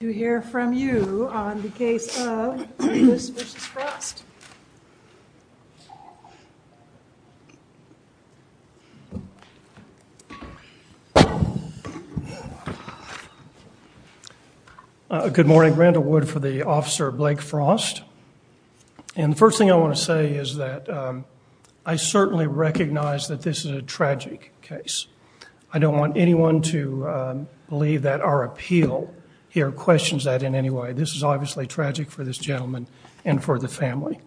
to hear from you on the case of Reavis v. Frost. Good morning. Randall Wood for the Officer Blake Frost. And the first thing I want to say is that I certainly recognize that this is a tragic case. I don't want anyone to believe that our appeal here questions that in any way. This is obviously tragic for this gentleman and for the family.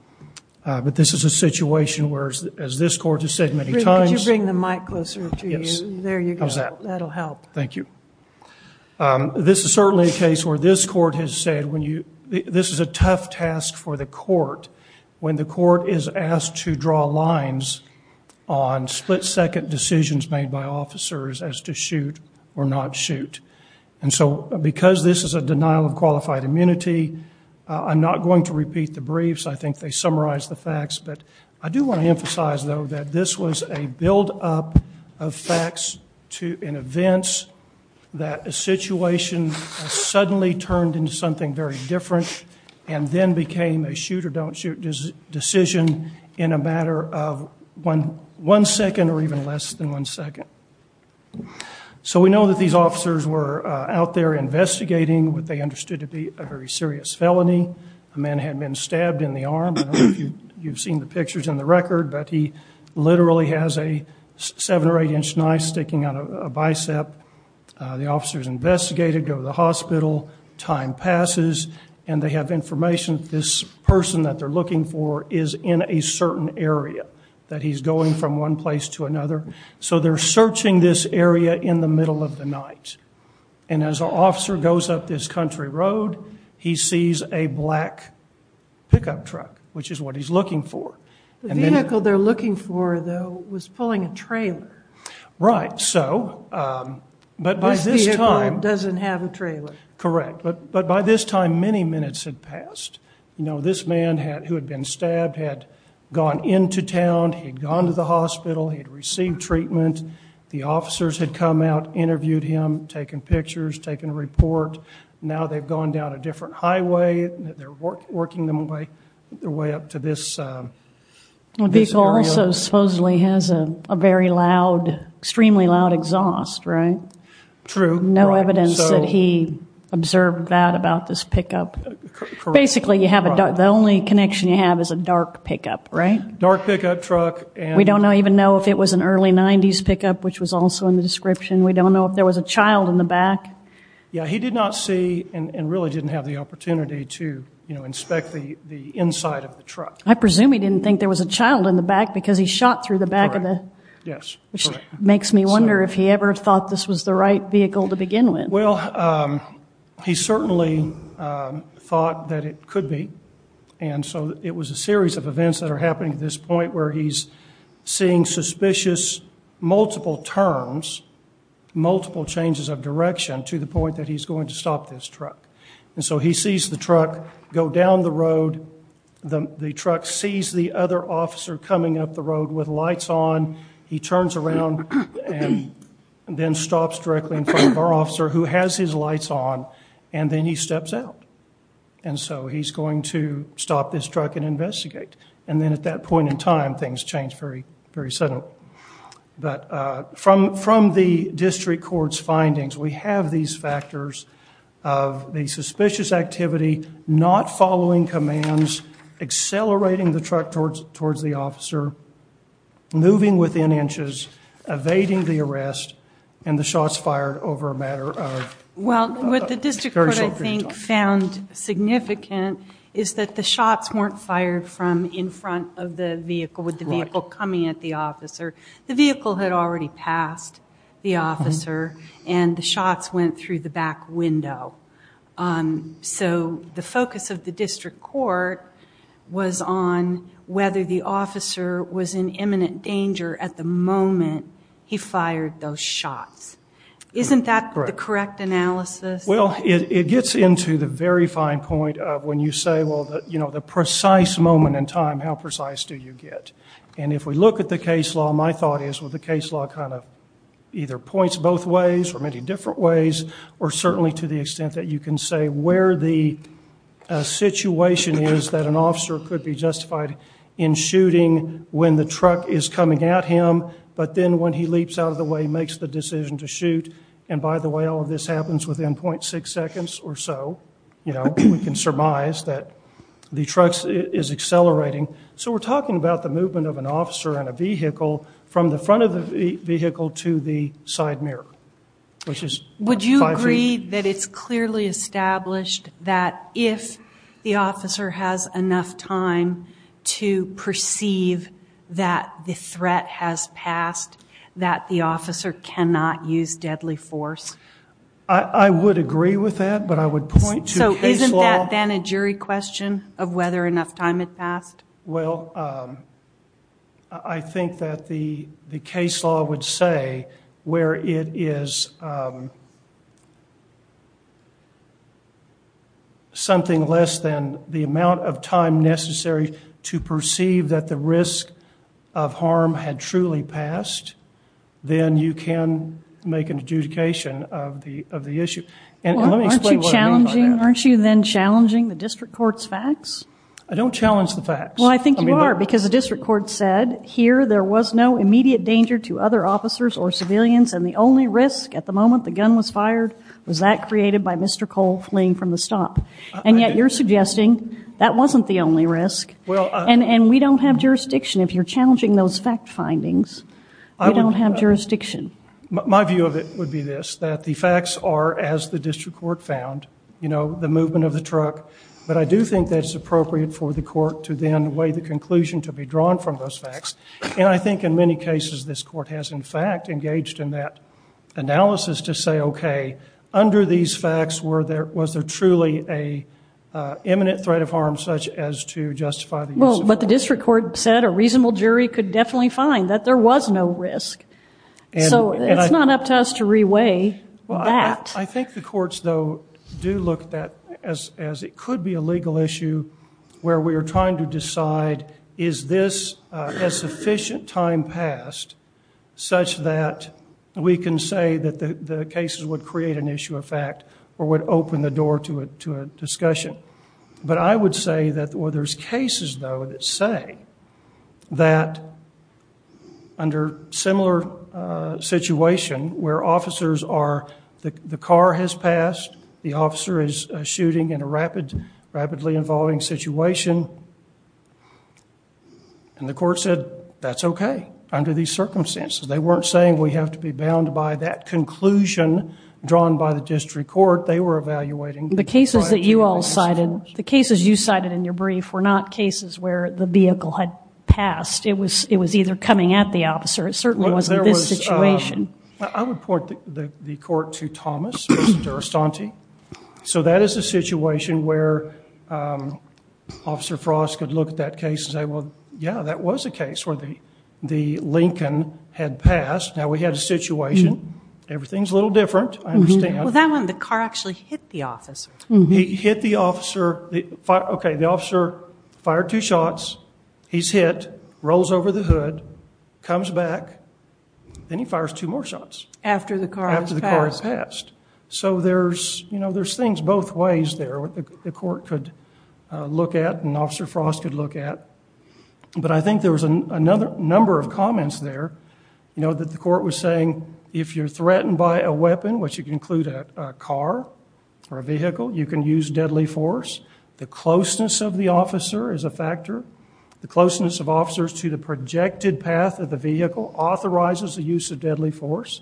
But this is a situation where, as this court has said many times, this is certainly a case where this court has said this is a tough task for the court. When the court is asked to draw lines on split-second decisions made by officers as to shoot or not shoot. And so because this is a denial of qualified immunity, I'm not going to repeat the briefs. I think they summarize the facts. But I do want to emphasize, though, that this was a buildup of facts and events that a situation suddenly turned into something very different and then became a shoot-or-don't-shoot decision in a matter of one second or even less than one second. So we know that these officers were out there investigating what they understood to be a very serious felony. A man had been stabbed in the arm. I don't know if you've seen the pictures in the record, but he literally has a seven or eight inch knife sticking out of a bicep. The officer's investigated, go to the hospital, time passes, and they have information that this person that they're a certain area, that he's going from one place to another. So they're searching this area in the middle of the night. And as our officer goes up this country road, he sees a black pickup truck, which is what he's looking for. The vehicle they're looking for, though, was pulling a trailer. Right, so. But by this time. This vehicle doesn't have a trailer. Correct. But by this time, many minutes had passed. This man who had been stabbed had gone into town. He'd gone to the hospital. He'd received treatment. The officers had come out, interviewed him, taken pictures, taken a report. Now they've gone down a different highway. They're working their way up to this area. The vehicle also supposedly has a very loud, extremely loud exhaust, right? True. No evidence that he observed that about this pickup. Basically, the only connection you have is a dark pickup, right? Dark pickup truck. We don't even know if it was an early 90s pickup, which was also in the description. We don't know if there was a child in the back. Yeah, he did not see and really didn't have the opportunity to inspect the inside of the truck. I presume he didn't think there was a child in the back because he shot through the back of the. Yes. Which makes me wonder if he ever thought this was the right vehicle to begin with. Well, he certainly thought that it could be. And so it was a series of events that are happening at this point where he's seeing suspicious multiple turns, multiple changes of direction to the point that he's going to stop this truck. And so he sees the truck go down the road. The truck sees the other officer coming up the road with lights on. He turns around and then stops directly in front of our officer who has his lights on. And then he steps out. And so he's going to stop this truck and investigate. And then at that point in time, things change very, very suddenly. But from the district court's findings, we have these factors of the suspicious activity not following commands, accelerating the truck towards the officer, moving within inches, evading the arrest, and the shots fired over a matter of a very short period of time. Well, what the district court, I think, found significant is that the shots weren't fired from in front of the vehicle with the vehicle coming at the officer. The vehicle had already passed the officer. And the shots went through the back window. So the focus of the district court was on whether the officer was in imminent danger at the moment he fired those shots. Isn't that the correct analysis? Well, it gets into the very fine point of when you say, well, the precise moment in time, how precise do you get? And if we look at the case law, my thought is, well, the case law kind of either points both ways or many different ways, or certainly to the extent that you can say where the situation is that an officer could be justified in shooting when the truck is coming at him, but then when he leaps out of the way, makes the decision to shoot. And by the way, all of this happens within 0.6 seconds or so. We can surmise that the truck is accelerating. So we're talking about the movement of an officer in a vehicle from the front of the vehicle to the side mirror, which is five feet. Would you agree that it's clearly established that if the officer has enough time to perceive that the threat has passed, that the officer cannot use deadly force? I would agree with that, but I would point to case law. So isn't that then a jury question of whether enough time had passed? Well, I think that the case law would say where it is. Something less than the amount of time necessary to perceive that the risk of harm had truly passed, then you can make an adjudication of the issue. And let me explain what I mean by that. Aren't you then challenging the district court's facts? I don't challenge the facts. Well, I think you are, because the district court said, here there was no immediate danger to other officers or civilians. And the only risk at the moment the gun was fired was that created by Mr. Cole fleeing from the stop. And yet you're suggesting that wasn't the only risk. And we don't have jurisdiction. If you're challenging those fact findings, we don't have jurisdiction. My view of it would be this, that the facts are, as the district court found, the movement of the truck. But I do think that it's appropriate for the court to then weigh the conclusion to be drawn from those facts. And I think in many cases, this court has, in fact, engaged in that analysis to say, OK, under these facts, was there truly a imminent threat of harm, such as to justify the use of force? But the district court said a reasonable jury could definitely find that there was no risk. So it's not up to us to re-weigh that. I think the courts, though, do look at that as it could be a legal issue where we are trying to decide, is this a sufficient time passed such that we can say that the cases would create an issue of fact or would open the door to a discussion? But I would say that, well, there's cases, though, that say that under similar situation where officers are, the car has passed, the officer is shooting in a rapidly evolving situation, and the court said, that's OK under these circumstances. They weren't saying we have to be bound by that conclusion drawn by the district court. They were evaluating the fact that we were in a situation. The cases you cited in your brief were not cases where the vehicle had passed. It was either coming at the officer. It certainly wasn't this situation. I would point the court to Thomas Durastanti. So that is a situation where Officer Frost could look at that case and say, well, yeah, that was a case where the Lincoln had passed. Now, we had a situation. Everything's a little different, I understand. Well, that one, the car actually hit the officer. He hit the officer. OK, the officer fired two shots. He's hit, rolls over the hood, comes back. Then he fires two more shots. After the car has passed. So there's things both ways there that the court could look at and Officer Frost could look at. But I think there was another number of comments there that the court was saying, if you're threatened by a weapon, which you can include a car or a vehicle, you can use deadly force. The closeness of the officer is a factor. The closeness of officers to the projected path of the vehicle authorizes the use of deadly force.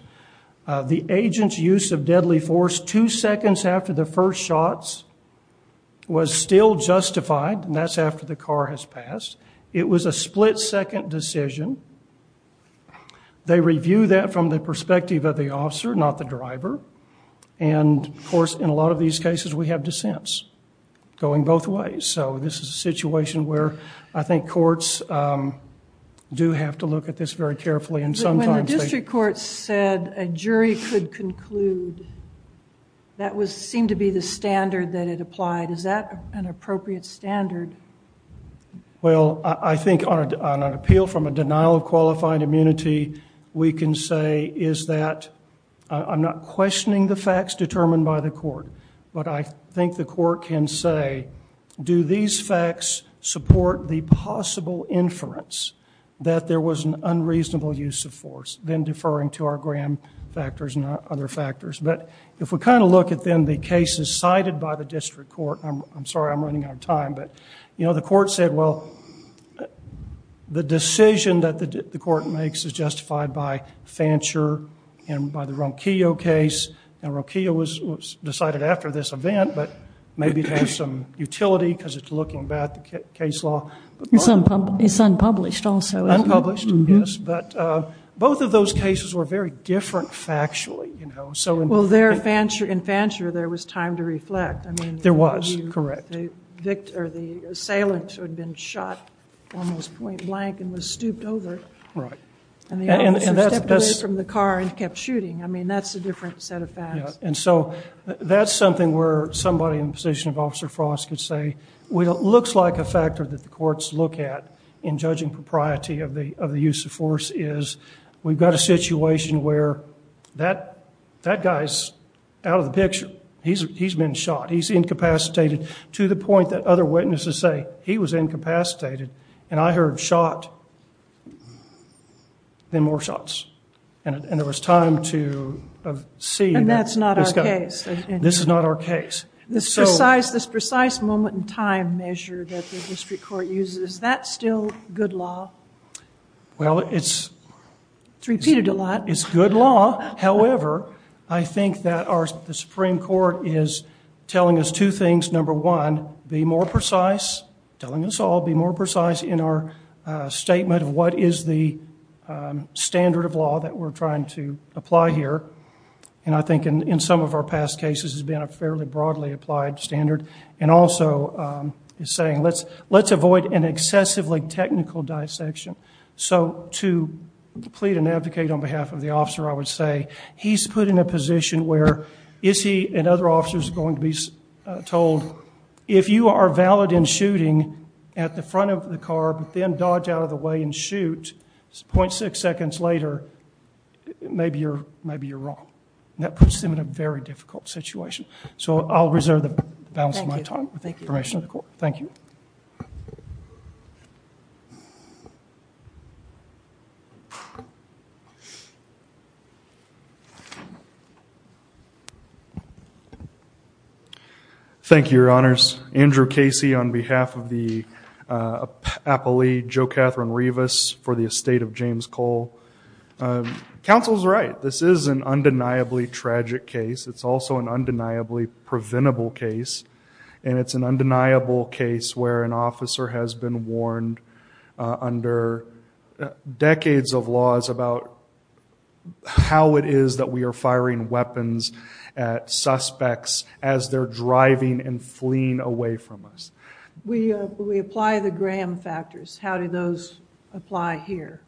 The agent's use of deadly force two seconds after the first shots was still justified. And that's after the car has passed. It was a split second decision. They review that from the perspective of the officer, not the driver. And of course, in a lot of these cases, we have dissents going both ways. So this is a situation where I think to look at this very carefully. And sometimes they. But when the district court said a jury could conclude, that seemed to be the standard that it applied. Is that an appropriate standard? Well, I think on an appeal from a denial of qualified immunity, we can say is that, I'm not questioning the facts determined by the court. But I think the court can say, do these facts support the possible inference that there was an unreasonable use of force? Then deferring to our Graham factors and other factors. But if we kind of look at then the cases cited by the district court, I'm sorry I'm running out of time. But the court said, well, the decision that the court makes is justified by Fancher and by the Ronquillo case. And Ronquillo was decided after this event. But maybe it has some utility, because it's looking back at the case law. It's unpublished also. Unpublished, yes. But both of those cases were very different factually. Well, in Fancher, there was time to reflect. There was, correct. The assailant had been shot almost point blank and was stooped over. And the officer stepped away from the car and kept shooting. I mean, that's a different set of facts. And so that's something where somebody in the position of Officer Frost could say, well, it looks like a factor that the courts look at in judging propriety of the use of force is we've got a situation where that guy's out of the picture. He's been shot. He's incapacitated to the point that other witnesses say, he was incapacitated. And I heard shot, then more shots. And there was time to see that. And that's not our case. This is not our case. This precise moment in time measure that the district court uses, is that still good law? Well, it's good law. However, I think that the Supreme Court is telling us two things. Number one, be more precise, telling us all be more precise in our statement of what is the standard of law that we're trying to apply here. And I think in some of our past cases this has been a fairly broadly applied standard. And also, it's saying, let's avoid an excessively technical dissection. So to plead and advocate on behalf of the officer, I would say, he's put in a position where is he and other officers going to be told, if you are valid in shooting at the front of the car, but then dodge out of the way and shoot 0.6 seconds later, maybe you're wrong. And that puts him in a very difficult situation. So I'll reserve the balance of my time with the permission of the court. Thank you. Thank you, Your Honors. Andrew Casey on behalf of the appellee, JoCatherine Rivas for the estate of James Cole. Counsel's right. This is an undeniably tragic case. It's also an undeniably preventable case. And it's an undeniable case where an officer has been warned under decades of laws about how it is that we are firing weapons at suspects as they're driving and fleeing away from us. We apply the Graham factors. How do those apply here?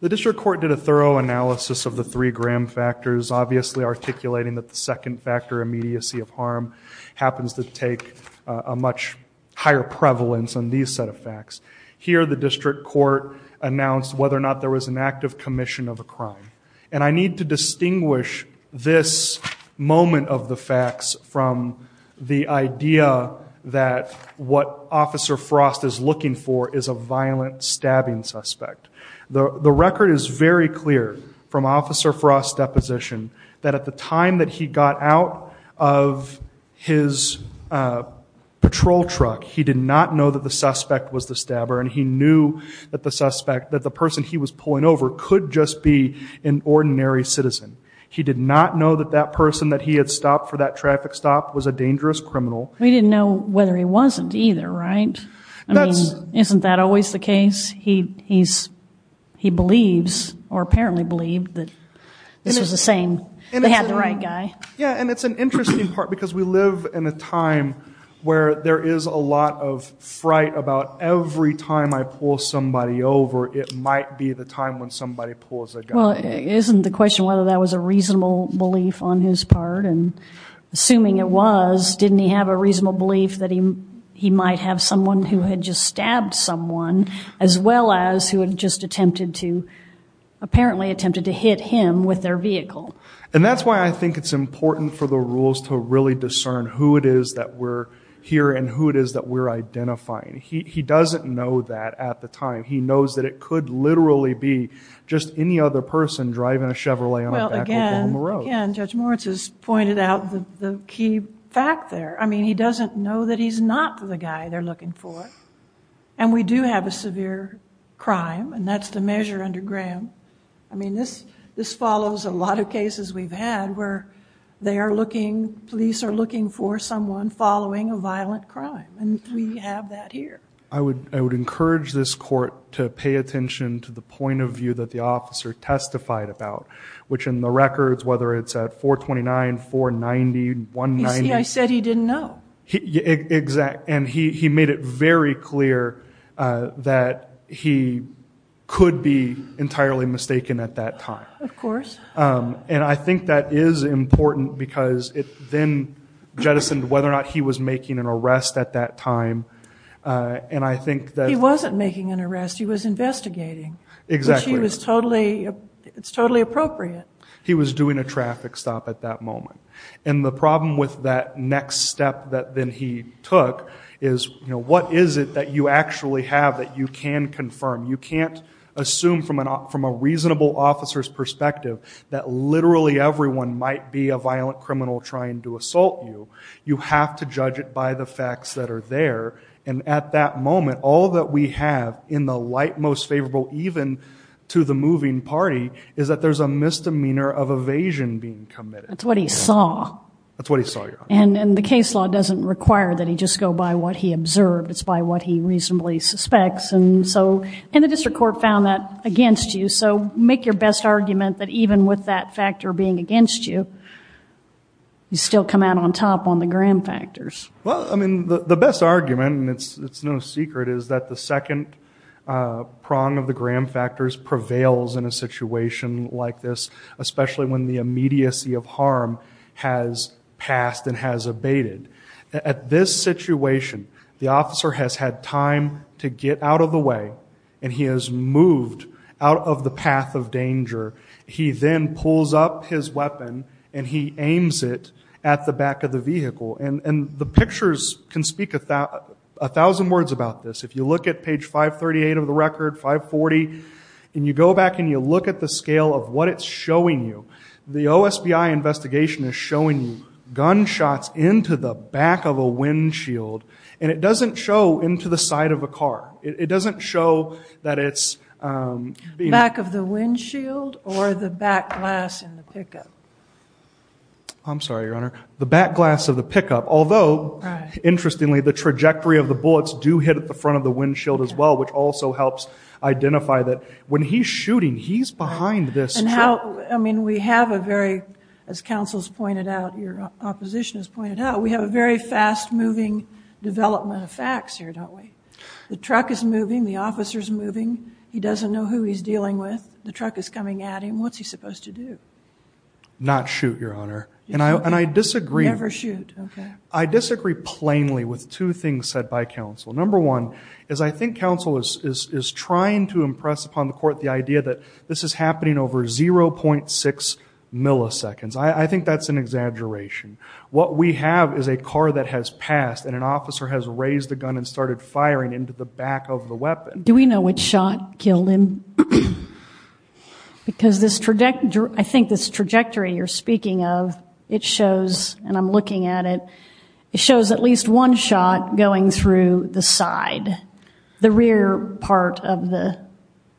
The district court did a thorough analysis of the three Graham factors, obviously articulating that the second factor, immediacy of harm, happens to take a much higher prevalence on these set of facts. Here, the district court announced whether or not there was an active commission of a crime. And I need to distinguish this moment of the facts from the idea that what Officer Frost is looking for is a violent stabbing suspect. The record is very clear from Officer Frost's deposition that at the time that he got out of his patrol truck, he did not know that the suspect was the stabber. And he knew that the suspect, that the person he was pulling over, could just be an ordinary citizen. He did not know that that person that he had stopped for that traffic stop was a dangerous criminal. We didn't know whether he wasn't either, right? Isn't that always the case? He believes, or apparently believed, that this was the same. They had the right guy. Yeah, and it's an interesting part, because we live in a time where there is a lot of fright about every time I pull somebody over, it might be the time when somebody pulls a gun. Well, isn't the question whether that was a reasonable belief on his part? And assuming it was, didn't he have a reasonable belief that he might have someone who had just stabbed someone, as well as who had just attempted to, apparently attempted to hit him with their vehicle? And that's why I think it's important for the rules to really discern who it is that we're here, and who it is that we're identifying. He doesn't know that at the time. He knows that it could literally be just any other person driving a Chevrolet on a back road down the road. Again, Judge Moritz has pointed out the key fact there. I mean, he doesn't know that he's not the guy they're looking for. And we do have a severe crime, and that's the measure under Graham. I mean, this follows a lot of cases we've had where they are looking, police are looking for someone following a violent crime, and we have that here. I would encourage this court to pay attention to the point of view that the officer testified about, which in the records, whether it's at 429, 490, 190. You see, I said he didn't know. Exactly, and he made it very clear that he could be entirely mistaken at that time. Of course. And I think that is important because it then jettisoned whether or not he was making an arrest at that time, and I think that. He wasn't making an arrest, he was investigating. Exactly. Which he was totally, it's totally appropriate. He was doing a traffic stop at that moment. And the problem with that next step that then he took is what is it that you actually have that you can confirm? You can't assume from a reasonable officer's perspective that literally everyone might be a violent criminal trying to assault you. You have to judge it by the facts that are there, and at that moment, all that we have in the light most favorable even to the moving party is that there's a misdemeanor of evasion being committed. That's what he saw. That's what he saw, yeah. And the case law doesn't require that he just go by what he observed, it's by what he reasonably suspects. And so, and the district court found that against you, so make your best argument that even with that factor being against you, you still come out on top on the gram factors. Well, I mean, the best argument, and it's no secret, is that the second prong of the gram factors prevails in a situation like this, especially when the immediacy of harm has passed and has abated. At this situation, the officer has had time to get out of the way, and he has moved out of the path of danger. He then pulls up his weapon, and he aims it at the back of the vehicle. And the pictures can speak 1,000 words about this. If you look at page 538 of the record, 540, and you go back and you look at the scale of what it's showing you, the OSBI investigation is showing gunshots into the back of a windshield. And it doesn't show into the side of a car. It doesn't show that it's being- Back of the windshield or the back glass in the pickup? I'm sorry, Your Honor. The back glass of the pickup. Although, interestingly, the trajectory of the bullets do hit at the front of the windshield as well, which also helps identify that when he's shooting, he's behind this truck. I mean, we have a very, as counsel's pointed out, your opposition has pointed out, we have a very fast-moving development of facts here, don't we? The truck is moving. The officer's moving. He doesn't know who he's dealing with. The truck is coming at him. What's he supposed to do? Not shoot, Your Honor. And I disagree. Never shoot, OK. I disagree plainly with two things said by counsel. Number one is I think counsel is trying to impress upon the court the idea that this is happening over 0.6 milliseconds. I think that's an exaggeration. What we have is a car that has passed, and an officer has raised the gun and started firing into the back of the weapon. Do we know which shot killed him? Because I think this trajectory you're speaking of, it shows, and I'm looking at it, it shows at least one shot going through the side, the rear part of the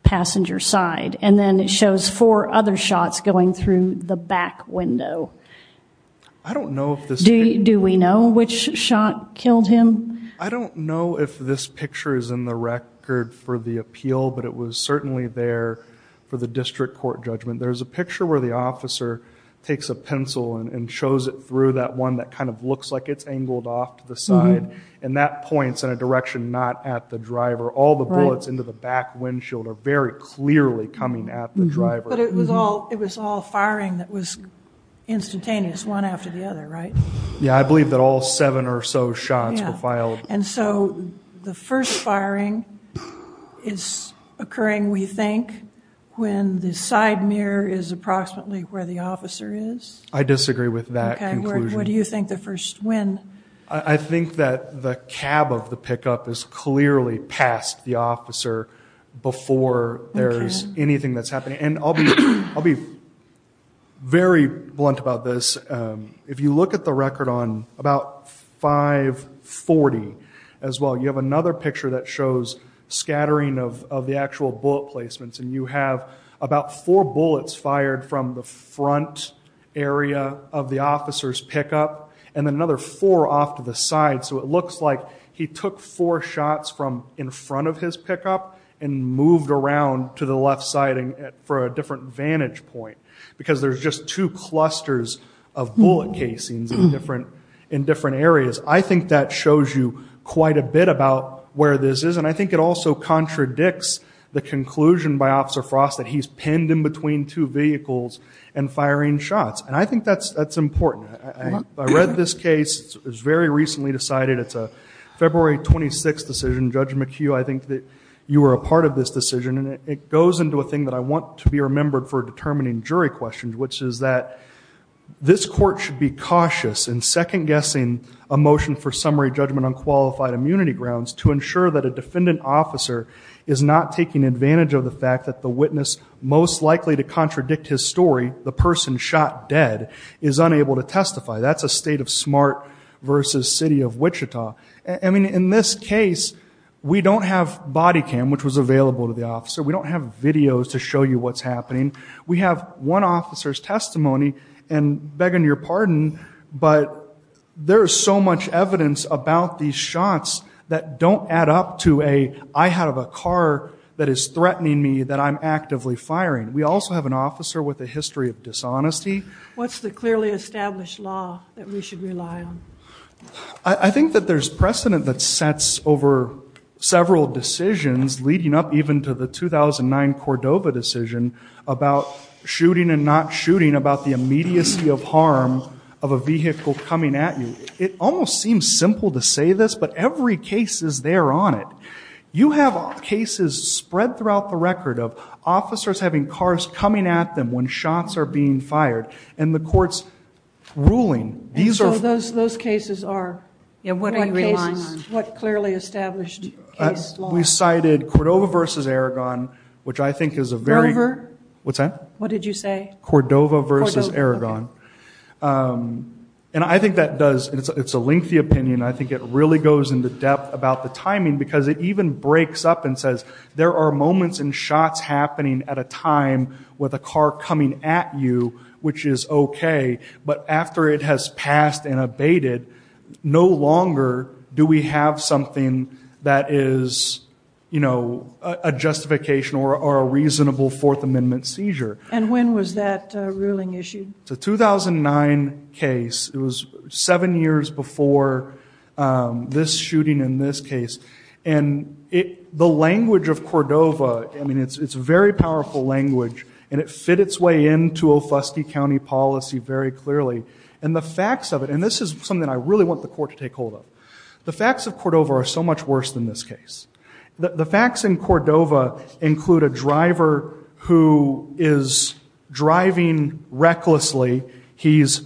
passenger side. And then it shows four other shots going through the back window. I don't know if this picture- Do we know which shot killed him? I don't know if this picture is in the record for the appeal, but it was certainly there for the district court judgment. There's a picture where the officer takes a pencil and shows it through that one that kind of looks like it's angled off to the side. And that points in a direction not at the driver. All the bullets into the back windshield are very clearly coming at the driver. But it was all firing that was instantaneous, one after the other, right? Yeah, I believe that all seven or so shots were filed. And so the first firing is occurring, we think, when the side mirror is approximately where the officer is? I disagree with that conclusion. What do you think the first, when? I think that the cab of the pickup is clearly past the officer before there's anything that's happening. And I'll be very blunt about this. If you look at the record on about 540 as well, you have another picture that shows scattering of the actual bullet placements. from the front area of the officer's pickup. And then another four off to the side. So it looks like he took four shots from in front of his pickup and moved around to the left side for a different vantage point. Because there's just two clusters of bullet casings in different areas. I think that shows you quite a bit about where this is. And I think it also contradicts the conclusion by Officer Frost that he's pinned in between two vehicles and firing shots. And I think that's important. I read this case, it was very recently decided. It's a February 26 decision. Judge McHugh, I think that you were a part of this decision. And it goes into a thing that I want to be remembered for determining jury questions, which is that this court should be cautious in second guessing a motion for summary judgment on qualified immunity grounds to ensure that a defendant officer is not taking advantage of the fact that the witness most likely to contradict his story, the person shot dead, is unable to testify. That's a state of smart versus city of Wichita. I mean, in this case, we don't have body cam, which was available to the officer. We don't have videos to show you what's happening. We have one officer's testimony, and begging your pardon, but there's so much evidence about these shots that don't add up to a I have a car that is threatening me that I'm actively firing. We also have an officer with a history of dishonesty. What's the clearly established law that we should rely on? I think that there's precedent that sets over several decisions leading up even to the 2009 Cordova decision about shooting and not shooting, about the immediacy of harm of a vehicle coming at you. It almost seems simple to say this, but every case is there on it. You have cases spread throughout the record of officers having cars coming at them when shots are being fired, and the court's ruling. These are- Those cases are- Yeah, what do you rely on? What clearly established case law? We cited Cordova versus Aragon, which I think is a very- Cordova? What's that? What did you say? Cordova versus Aragon. And I think that does, it's a lengthy opinion. I think it really goes into depth about the timing because it even breaks up and says, there are moments and shots happening at a time with a car coming at you, which is okay, but after it has passed and abated, no longer do we have something that is, you know, a justification or a reasonable Fourth Amendment seizure. And when was that ruling issued? It's a 2009 case. It was seven years before this shooting in this case. And the language of Cordova, I mean, it's very powerful language, and it fit its way into a fusty county policy very clearly. And the facts of it, and this is something I really want the court to take hold of. The facts of Cordova are so much worse than this case. The facts in Cordova include a driver who is driving recklessly. He's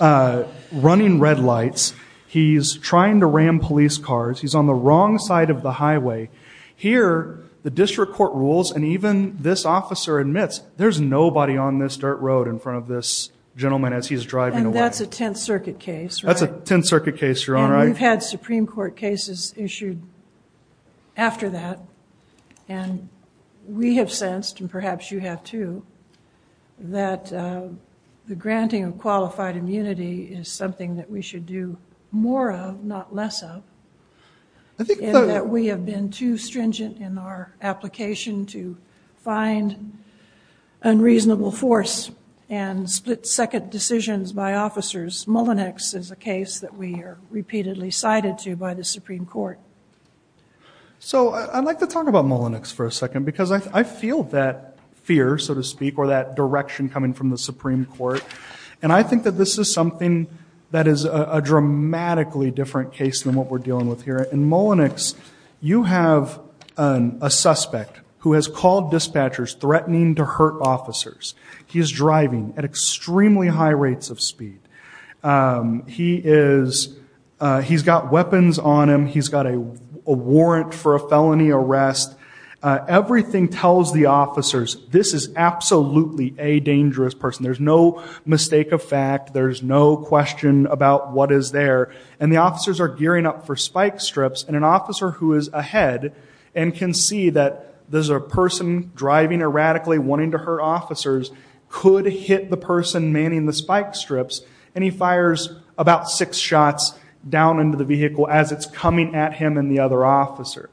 running red lights. He's trying to ram police cars. He's on the wrong side of the highway. Here, the district court rules, and even this officer admits, there's nobody on this dirt road in front of this gentleman as he's driving away. And that's a Tenth Circuit case, right? That's a Tenth Circuit case, Your Honor. And we've had Supreme Court cases issued after that. And we have sensed, and perhaps you have too, that the granting of qualified immunity is something that we should do more of, not less of. And that we have been too stringent in our application to find unreasonable force and split-second decisions by officers. Mullinex is a case that we are repeatedly cited to by the Supreme Court. So I'd like to talk about Mullinex for a second, because I feel that fear, so to speak, or that direction coming from the Supreme Court. And I think that this is something that is a dramatically different case than what we're dealing with here. In Mullinex, you have a suspect who has called dispatchers, threatening to hurt officers. He is driving at extremely high rates of speed. He is, he's got weapons on him. He's got a warrant for a felony arrest. Everything tells the officers, this is absolutely a dangerous person. There's no mistake of fact. There's no question about what is there. And the officers are gearing up for spike strips, and an officer who is ahead, and can see that there's a person driving erratically, wanting to hurt officers, could hit the person manning the spike strips, and he fires about six shots down into the vehicle as it's coming at him and the other officer.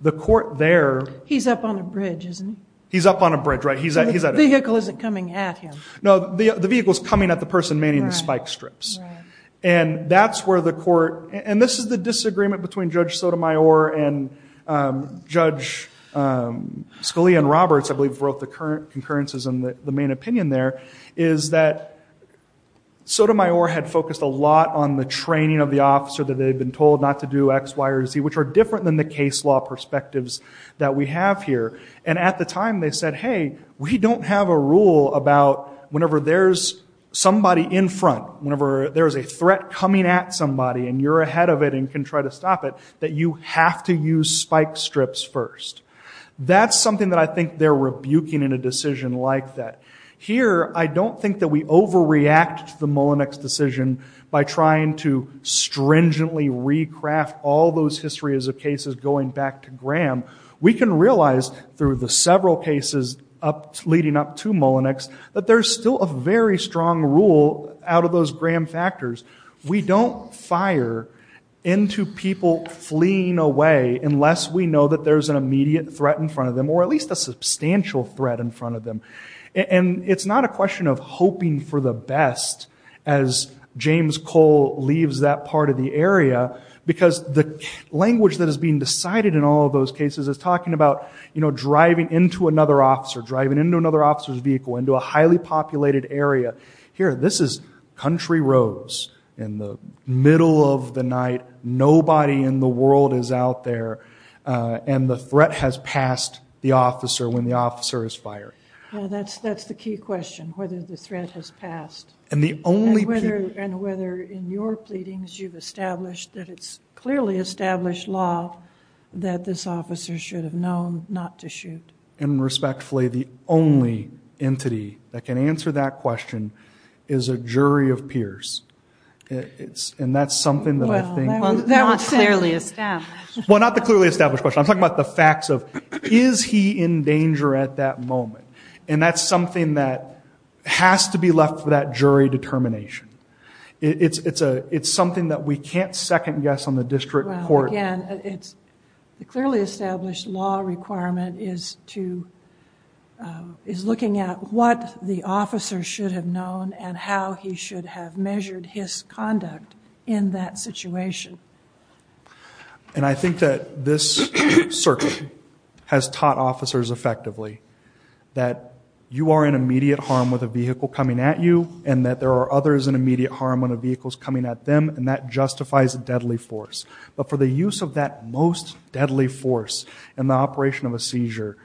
The court there- He's up on a bridge, isn't he? He's up on a bridge, right. He's at a- The vehicle isn't coming at him. The vehicle's coming at the person manning the spike strips. And that's where the court, and this is the disagreement between Judge Sotomayor and Judge Scalia and Roberts, I believe wrote the concurrences in the main opinion there, is that Sotomayor had focused a lot on the training of the officer that they'd been told not to do X, Y, or Z, which are different than the case law perspectives that we have here. And at the time, they said, hey, we don't have a rule about whenever there's somebody in front, whenever there's a threat coming at somebody and you're ahead of it and can try to stop it, that you have to use spike strips first. That's something that I think they're rebuking in a decision like that. Here, I don't think that we overreact to the Mullinex decision by trying to stringently recraft all those histories of cases going back to Graham. We can realize through the several cases leading up to Mullinex that there's still a very strong rule out of those Graham factors. We don't fire into people fleeing away unless we know that there's an immediate threat in front of them, or at least a substantial threat in front of them. And it's not a question of hoping for the best as James Cole leaves that part of the area, because the language that is being decided in all of those cases is talking about driving into another officer, driving into another officer's vehicle, into a highly populated area. Here, this is country roads in the middle of the night. Nobody in the world is out there. And the threat has passed the officer when the officer is fired. Yeah, that's the key question, whether the threat has passed. And the only people- And whether in your pleadings you've established that it's clearly established law that this officer should have known not to shoot. And respectfully, the only entity that can answer that question is a jury of peers. And that's something that I think- Well, not clearly established. Well, not the clearly established question. I'm talking about the facts of, is he in danger at that moment? And that's something that has to be left It's something that we can't second guess on the district court- Well, again, the clearly established law requirement is looking at what the officer should have known and how he should have measured his conduct in that situation. And I think that this circuit has taught officers effectively that you are in immediate harm with a vehicle coming at you, and that there are others in immediate harm when a vehicle's coming at them, and that justifies a deadly force. But for the use of that most deadly force in the operation of a seizure,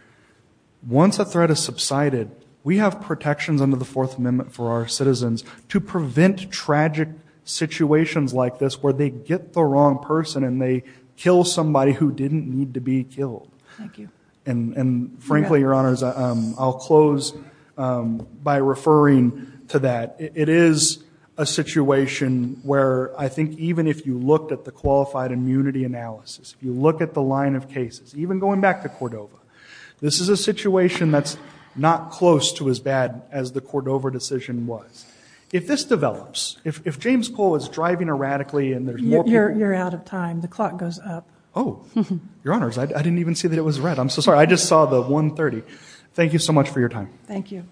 once a threat is subsided, we have protections under the Fourth Amendment for our citizens to prevent tragic situations like this where they get the wrong person and they kill somebody who didn't need to be killed. Thank you. And frankly, your honors, I'll close by referring to that. It is a situation where I think even if you looked at the qualified immunity analysis, if you look at the line of cases, even going back to Cordova, this is a situation that's not close to as bad as the Cordova decision was. If this develops, if James Cole is driving erratically and there's more people- You're out of time, the clock goes up. Oh, your honors, I didn't even see that it was red. I'm so sorry, I just saw the 1.30. Thank you so much for your time. Thank you.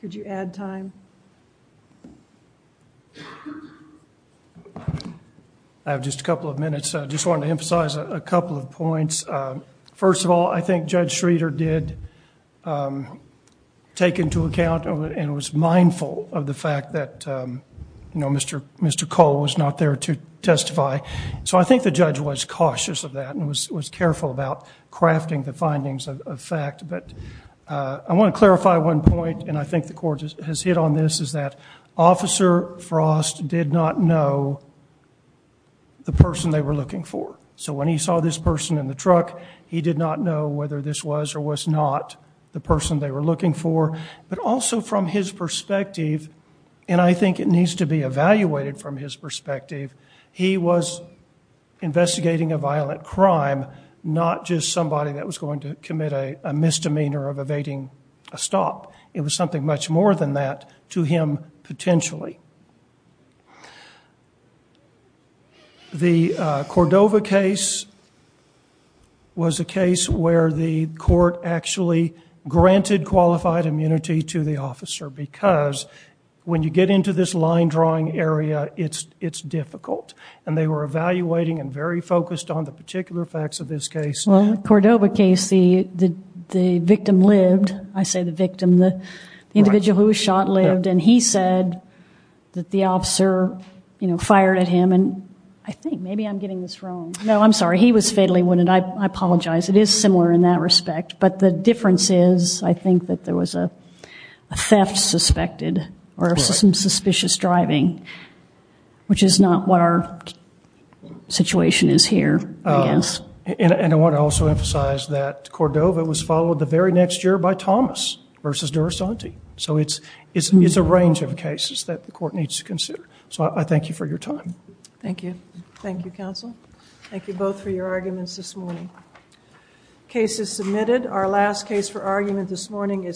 Could you add time? I have just a couple of minutes. I just wanted to emphasize a couple of points. First of all, I think Judge Schroeder did take into account and was mindful of the fact that Mr. Cole was not there to testify. So I think the judge was cautious of that and was careful about crafting the findings of fact. But I want to clarify one point, and I think the court has hit on this, is that Officer Frost did not know the person they were looking for. So when he saw this person in the truck, he did not know whether this was or was not the person they were looking for. But also from his perspective, and I think it needs to be evaluated from his perspective, he was investigating a violent crime, not just somebody that was going to commit a misdemeanor of evading a stop. It was something much more than that to him, potentially. The Cordova case was a case where the court actually granted qualified immunity to the officer because when you get into this line drawing area, it's difficult, and they were evaluating and very focused on the particular facts of this case. Well, in the Cordova case, the victim lived. I say the victim, the individual who was shot lived, and he said that the officer fired at him, and I think, maybe I'm getting this wrong. No, I'm sorry, he was fatally wounded, I apologize. It is similar in that respect, but the difference is I think that there was a theft suspected, or some suspicious driving, which is not what our situation is here, I guess. And I want to also emphasize that Cordova was followed the very next year by Thomas versus Durasanti. So it's a range of cases that the court needs to consider. So I thank you for your time. Thank you. Thank you, counsel. Thank you both for your arguments this morning. Case is submitted. Our last case for argument this morning is.